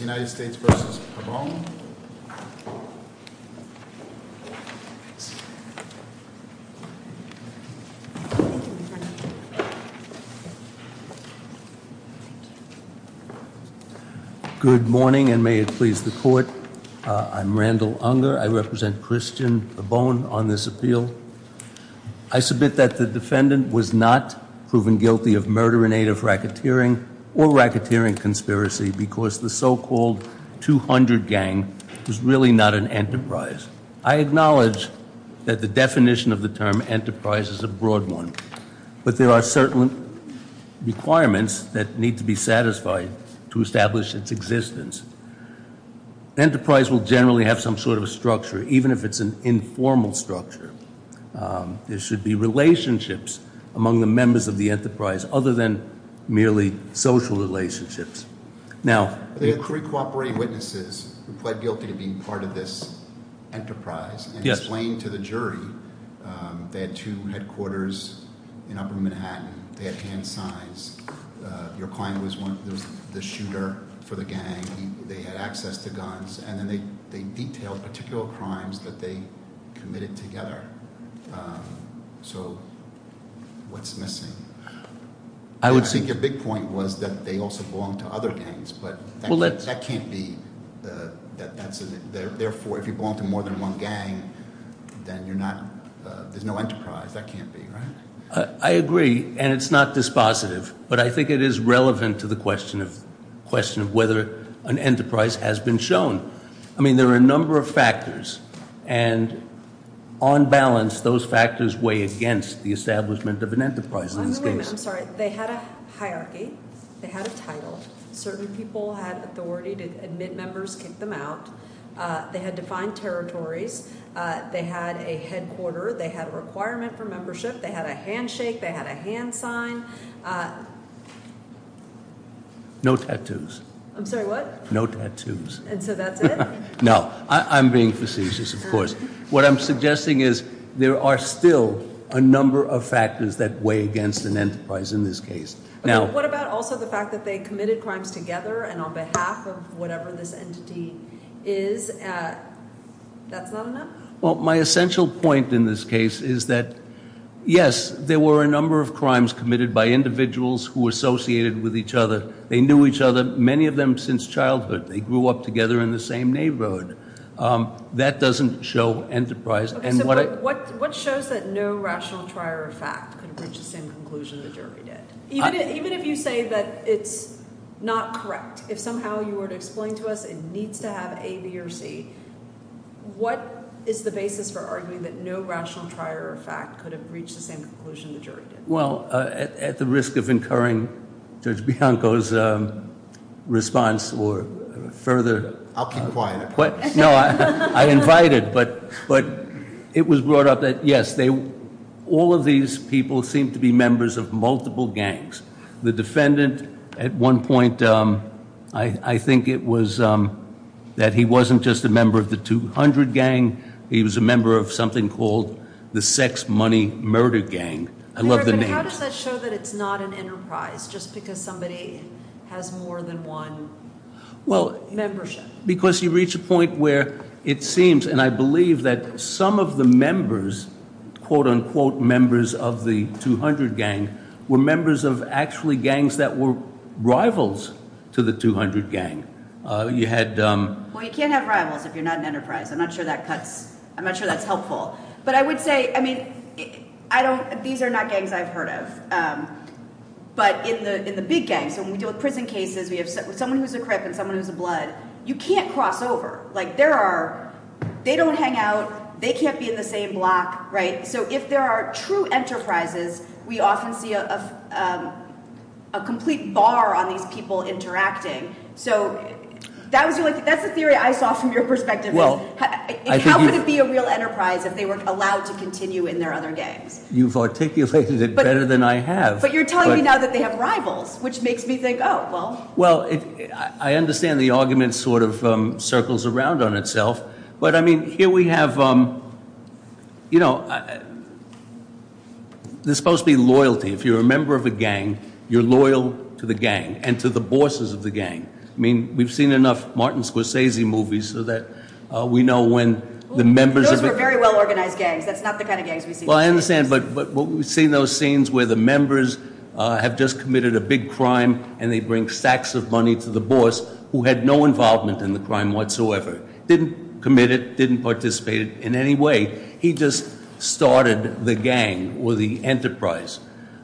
United States v. Pabon. Good morning and may it please the court. I'm Randall Unger. I represent Christian Pabon on this appeal. I submit that the defendant was not proven guilty of murder in aid of racketeering or racketeering conspiracy because the so-called 200 gang was really not an enterprise. I acknowledge that the definition of the term enterprise is a broad one but there are certain requirements that need to be satisfied to establish its existence. Enterprise will generally have some sort of a structure even if it's an informal structure. There should be relationships among the members of the enterprise other than merely social relationships. Now the cooperating witnesses who pled guilty to being part of this enterprise and explained to the jury they had two headquarters in upper Manhattan. They had hand signs. Your client was one there was the shooter for the gang. They had access to guns and then they they detailed particular crimes that they committed together. So what's missing? I would say your big point was that they also belong to other gangs but well that can't be that that's a therefore if you belong to more than one gang then you're not there's no enterprise that can't be. I agree and it's not dispositive but I think it is relevant to the question of question of whether an enterprise has been shown. I mean there are a number of factors and on balance those factors weigh against the establishment of an enterprise in this case. I'm sorry they had a hierarchy, they had a title, certain people had authority to admit members, kick them out, they had defined territories, they had a headquarter, they had a requirement for membership, they had a handshake, they had No I'm being facetious of course. What I'm suggesting is there are still a number of factors that weigh against an enterprise in this case. Now what about also the fact that they committed crimes together and on behalf of whatever this entity is? Well my essential point in this case is that yes there were a number of crimes committed by individuals who associated with each other. They knew each other many of them since childhood. They grew up together in the same neighborhood. That doesn't show enterprise. What shows that no rational trier of fact could have reached the same conclusion the jury did? Even if you say that it's not correct, if somehow you were to explain to us it needs to have A, B, or C, what is the basis for arguing that no rational trier of fact could have reached the same conclusion the jury did? Well at the risk of incurring Judge Bianco's response or further... I'll keep quiet. No I invited but it was brought up that yes they all of these people seem to be members of multiple gangs. The defendant at one point I think it was that he wasn't just a member of the 200 gang, he was a member of something called the sex money murder gang. I love the name. How does that show that it's not an enterprise just because somebody has more than one membership? Because you reach a point where it seems and I believe that some of the members quote-unquote members of the 200 gang were members of actually gangs that were rivals to the 200 gang. You had... Well you can't have rivals if you're not an enterprise. I'm not sure that cuts... I'm not sure that's helpful but I would say I mean I don't these are not gangs I've heard of but in the in the big gang so when we deal with prison cases we have someone who's a crip and someone who's a blood you can't cross over like there are they don't hang out they can't be in the same block right so if there are true enterprises we often see a complete bar on these people interacting so that was really that's the theory I saw from your perspective. How would it be a real enterprise if they were allowed to continue in their other gangs? You've articulated it better than I have. But you're telling me now that they have rivals which makes me think oh well. I understand the argument sort of circles around on itself but I mean here we have you know there's supposed to be loyalty if you're a member of a gang you're loyal to the gang and to the bosses of the gang. I mean we've seen enough Martin Scorsese movies so that we know when the members... Those were very well organized gangs. That's not the kind of gangs we see. Well I understand but what we've seen those scenes where the members have just committed a big crime and they bring stacks of money to the boss who had no involvement in the crime whatsoever didn't commit it didn't participate in any way he just started the gang or the enterprise.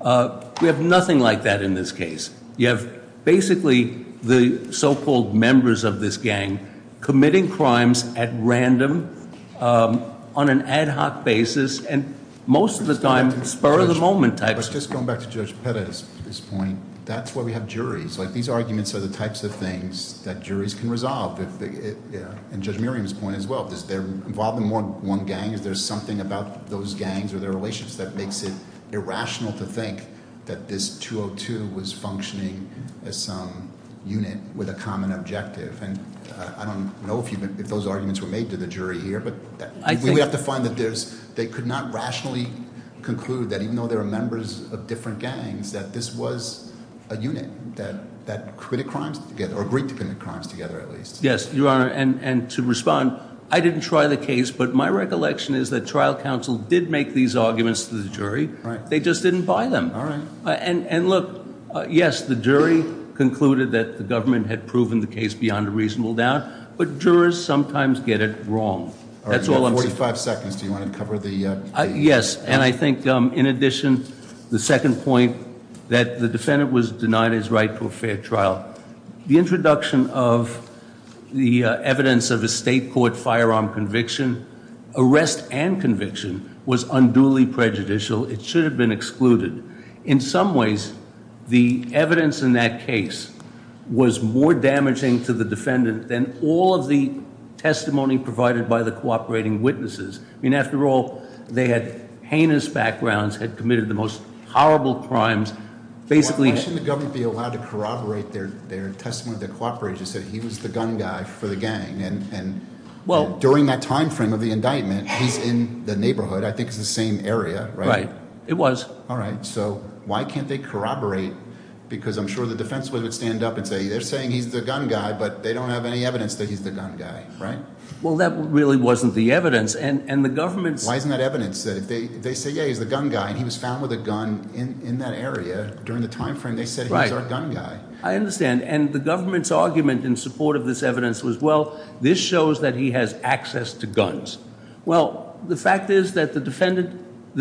We have nothing like that in this case. You have basically the so called members of this gang committing crimes at random on an ad-hoc basis and most of the time spur of the moment types of things. Just going back to Judge Perez's point, that's why we have juries. These arguments are the types of things that juries can resolve and Judge Miriam's point as well. If they're involved in more than one gang, if there's something about those gangs or their relations that makes it irrational to think that this 202 was functioning as some unit with a common objective and I don't know if those arguments were made to the jury here but we have to find that they could not rationally conclude that even though they were members of different gangs that this was a unit that committed crimes together or agreed to commit crimes together at least. Yes your honor and to respond I didn't try the case but my recollection is that trial counsel did make these arguments to the jury they just didn't buy them. And look yes the jury concluded that the government had proven the case beyond a reasonable doubt but jurors sometimes get it wrong. You have 45 seconds do you want to cover the... Yes and I think in addition the second point that the defendant was denied his right to a fair trial. The introduction of the evidence of a state court firearm conviction, arrest and conviction was unduly prejudicial. It should have been excluded. In some ways the evidence in that case was more damaging to the defendant than all of the testimony provided by the cooperating witnesses. I mean after all they had heinous backgrounds, had committed the most horrible crimes. Why shouldn't the government be allowed to corroborate their testimony that cooperated and said he was the gun guy for the gang and during that time frame of the indictment he's in the neighborhood I think it's the same area right? Right it was. Alright so why can't they corroborate because I'm sure the defense would stand up and say they're saying he's the gun guy but they don't have any evidence that he's the gun guy right? Well that really wasn't the evidence and the government... Why isn't that evidence that if they say yeah he's the gun guy and he was found with a gun in that area during the time frame they said he was our gun guy. I understand and the government's argument in support of this evidence was well this shows that he has access to guns. Well the fact is that the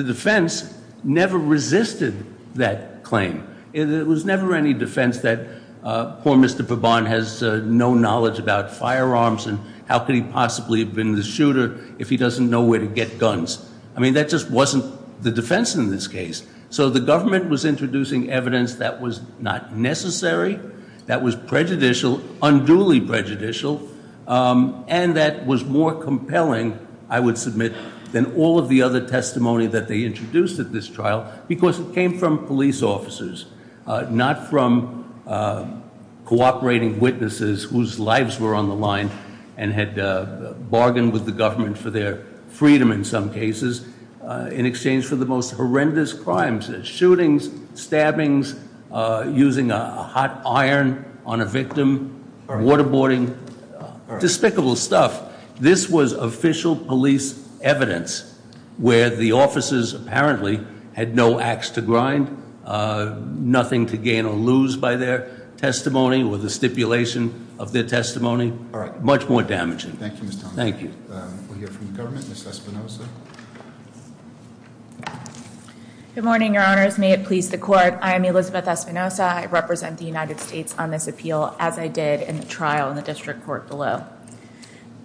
defense never resisted that claim. It was never any defense that poor Mr. Verbonne has no knowledge about firearms and how could he possibly have been the shooter if he doesn't know where to get guns. I mean that just wasn't the defense in this case. So the government was introducing evidence that was not necessary, that was prejudicial, unduly prejudicial and that was more compelling I would submit than all of the other testimony that they introduced at this trial because it came from police officers. Not from cooperating witnesses whose lives were on the line and had bargained with the government for their freedom in some cases. In exchange for the most horrendous crimes, shootings, stabbings, using a hot iron on a victim, waterboarding, despicable stuff. This was official police evidence where the officers apparently had no ax to grind, nothing to gain or lose by their testimony or the stipulation of their testimony, much more damaging. Thank you. We'll hear from the government, Ms. Espinosa. Good morning, your honors. May it please the court. I am Elizabeth Espinosa. I represent the United States on this appeal as I did in the trial in the district court below.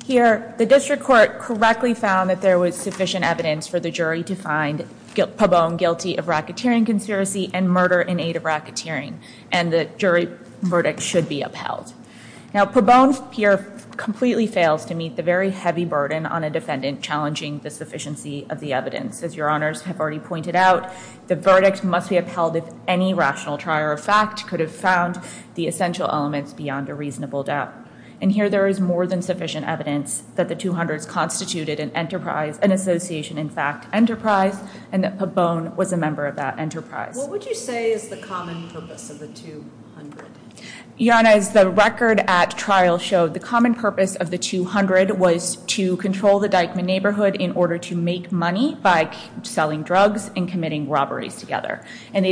Here the district court correctly found that there was sufficient evidence for the jury to find Pabon guilty of racketeering conspiracy and murder in aid of racketeering. And the jury verdict should be upheld. Now Pabon here completely fails to meet the very heavy burden on a defendant challenging the sufficiency of the evidence. As your honors have already pointed out, the verdict must be upheld if any rational trier of fact could have found the essential elements beyond a reasonable doubt. And here there is more than sufficient evidence that the 200s constituted an enterprise, an association in fact enterprise, and that Pabon was a member of that enterprise. What would you say is the common purpose of the 200? Your honors, the record at trial showed the common purpose of the 200 was to control the Dyckman neighborhood in order to make money by selling drugs and committing robberies together. And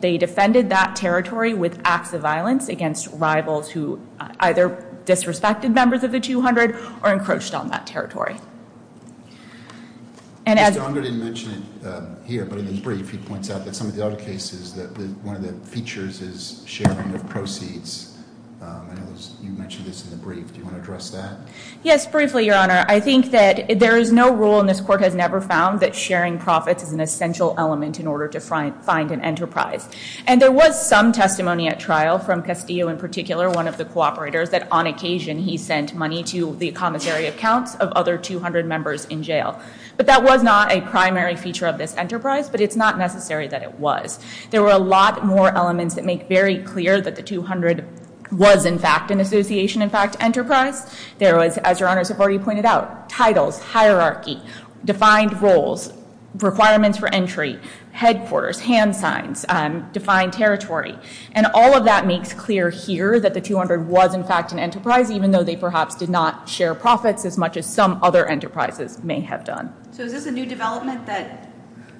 they defended that territory with acts of violence against rivals who either disrespected members of the 200 or encroached on that territory. Mr. Unger didn't mention it here, but in his brief he points out that some of the other cases that one of the features is sharing of proceeds. I know you mentioned this in the brief. Do you want to address that? Yes, briefly, your honor. I think that there is no rule and this court has never found that sharing profits is an essential element in order to find an enterprise. And there was some testimony at trial from Castillo in particular, one of the cooperators, that on occasion he sent money to the commissary accounts of other 200 members in jail. But that was not a primary feature of this enterprise, but it's not necessary that it was. There were a lot more elements that make very clear that the 200 was in fact an association, in fact enterprise. There was, as your honors have already pointed out, titles, hierarchy, defined roles, requirements for entry, headquarters, hand signs, defined territory. And all of that makes clear here that the 200 was in fact an enterprise, even though they perhaps did not share profits as much as some other enterprises may have done. So is this a new development that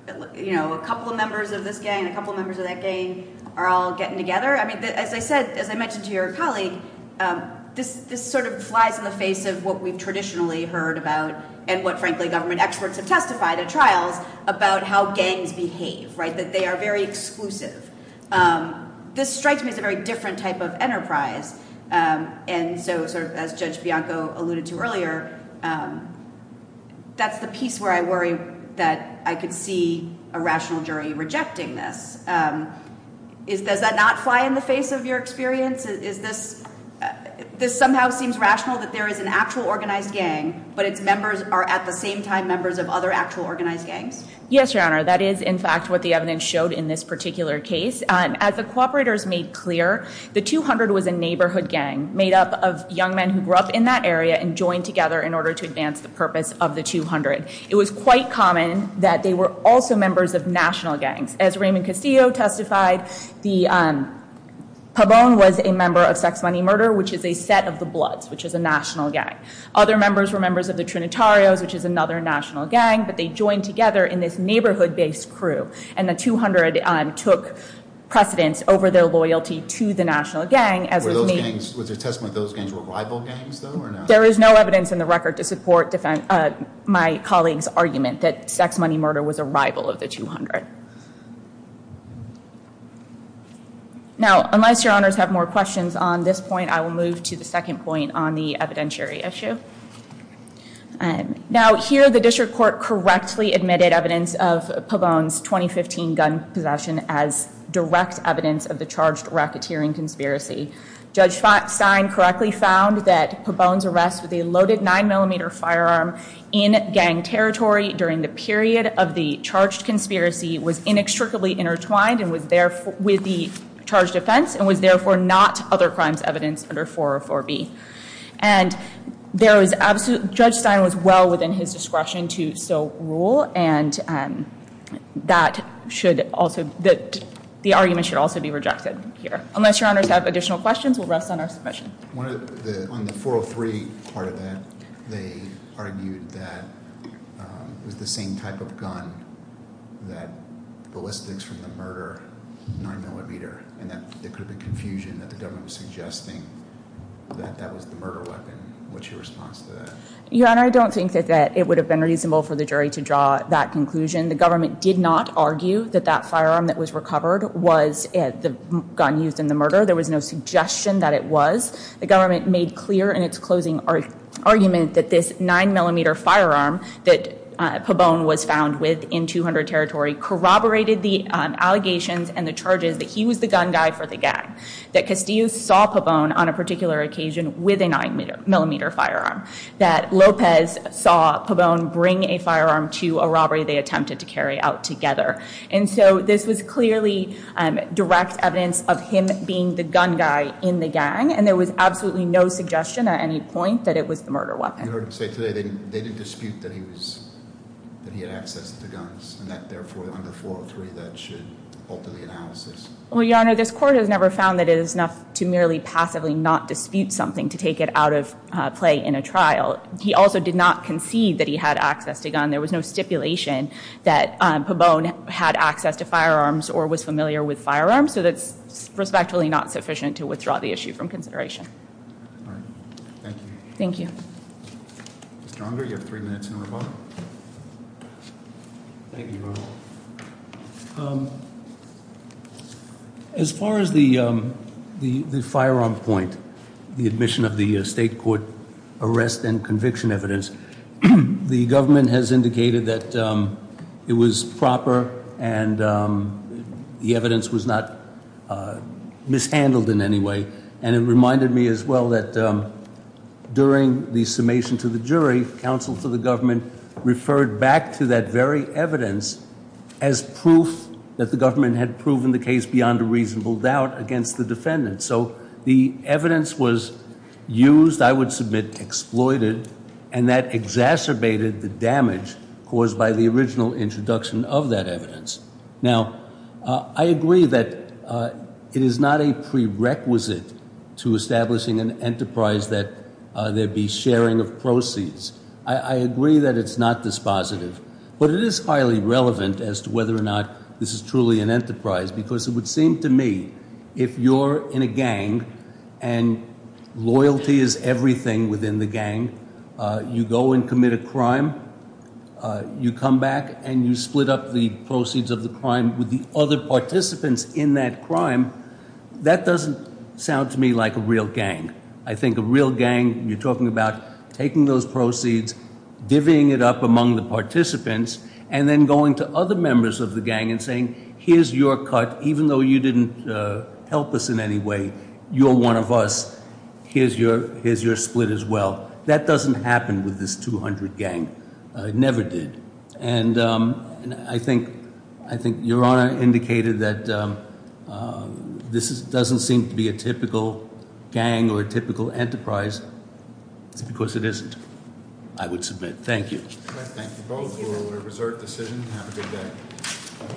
a couple of members of this gang and a couple of members of that gang are all getting together? I mean, as I said, as I mentioned to your colleague, this sort of flies in the face of what we've traditionally heard about and what, frankly, government experts have testified at trials about how gangs behave, right, that they are very exclusive. This strikes me as a very different type of enterprise. And so as Judge Bianco alluded to earlier, that's the piece where I worry that I could see a rational jury rejecting this. Does that not fly in the face of your experience? This somehow seems rational that there is an actual organized gang, but its members are at the same time members of other actual organized gangs? Yes, your honor. That is in fact what the evidence showed in this particular case. As the cooperators made clear, the 200 was a neighborhood gang made up of young men who grew up in that area and joined together in order to advance the purpose of the 200. It was quite common that they were also members of national gangs. As Raymond Castillo testified, Pabon was a member of Sex Money Murder, which is a set of the Bloods, which is a national gang. Other members were members of the Trinitarios, which is another national gang, but they joined together in this neighborhood-based crew. And the 200 took precedence over their loyalty to the national gang. Was there testimony that those gangs were rival gangs, though, or no? There is no evidence in the record to support my colleague's argument that Sex Money Murder was a rival of the 200. All right. Now, unless your honors have more questions on this point, I will move to the second point on the evidentiary issue. Now, here the district court correctly admitted evidence of Pabon's 2015 gun possession as direct evidence of the charged racketeering conspiracy. Judge Feinstein correctly found that Pabon's arrest with a loaded 9mm firearm in gang territory during the period of the charged conspiracy was inextricably intertwined with the charged offense and was therefore not other crimes evidence under 404B. And Judge Stein was well within his discretion to so rule, and the argument should also be rejected here. Unless your honors have additional questions, we'll rest on our submission. On the 403 part of that, they argued that it was the same type of gun, that ballistics from the murder, 9mm, and that there could have been confusion that the government was suggesting that that was the murder weapon. What's your response to that? Your Honor, I don't think that it would have been reasonable for the jury to draw that conclusion. The government did not argue that that firearm that was recovered was the gun used in the murder. There was no suggestion that it was. The government made clear in its closing argument that this 9mm firearm that Pabon was found with in 200 territory corroborated the allegations and the charges that he was the gun guy for the gang, that Castillo saw Pabon on a particular occasion with a 9mm firearm, that Lopez saw Pabon bring a firearm to a robbery they attempted to carry out together. And so this was clearly direct evidence of him being the gun guy in the gang, and there was absolutely no suggestion at any point that it was the murder weapon. You heard him say today they didn't dispute that he had access to guns, and that therefore on the 403 that should alter the analysis. Well, Your Honor, this court has never found that it is enough to merely passively not dispute something to take it out of play in a trial. He also did not concede that he had access to a gun. There was no stipulation that Pabon had access to firearms or was familiar with firearms, so that's respectfully not sufficient to withdraw the issue from consideration. All right. Thank you. Thank you. Mr. Unger, you have three minutes in rebuttal. Thank you, Your Honor. As far as the firearm point, the admission of the state court arrest and conviction evidence, the government has indicated that it was proper and the evidence was not mishandled in any way, and it reminded me as well that during the summation to the jury, counsel to the government referred back to that very evidence as proof that the government had proven the case beyond a reasonable doubt against the defendant. So the evidence was used, I would submit exploited, and that exacerbated the damage caused by the original introduction of that evidence. Now, I agree that it is not a prerequisite to establishing an enterprise that there be sharing of proceeds. I agree that it's not dispositive, but it is highly relevant as to whether or not this is truly an enterprise, because it would seem to me if you're in a gang and loyalty is everything within the gang, you go and commit a crime, you come back and you split up the proceeds of the crime with the other participants in that crime, that doesn't sound to me like a real gang. I think a real gang, you're talking about taking those proceeds, divvying it up among the participants, and then going to other members of the gang and saying, here's your cut. Even though you didn't help us in any way, you're one of us. Here's your split as well. That doesn't happen with this 200 gang. It never did. And I think Your Honor indicated that this doesn't seem to be a typical gang or a typical enterprise. It's because it isn't, I would submit. Thank you. Thank you both for a reserved decision. Have a good day.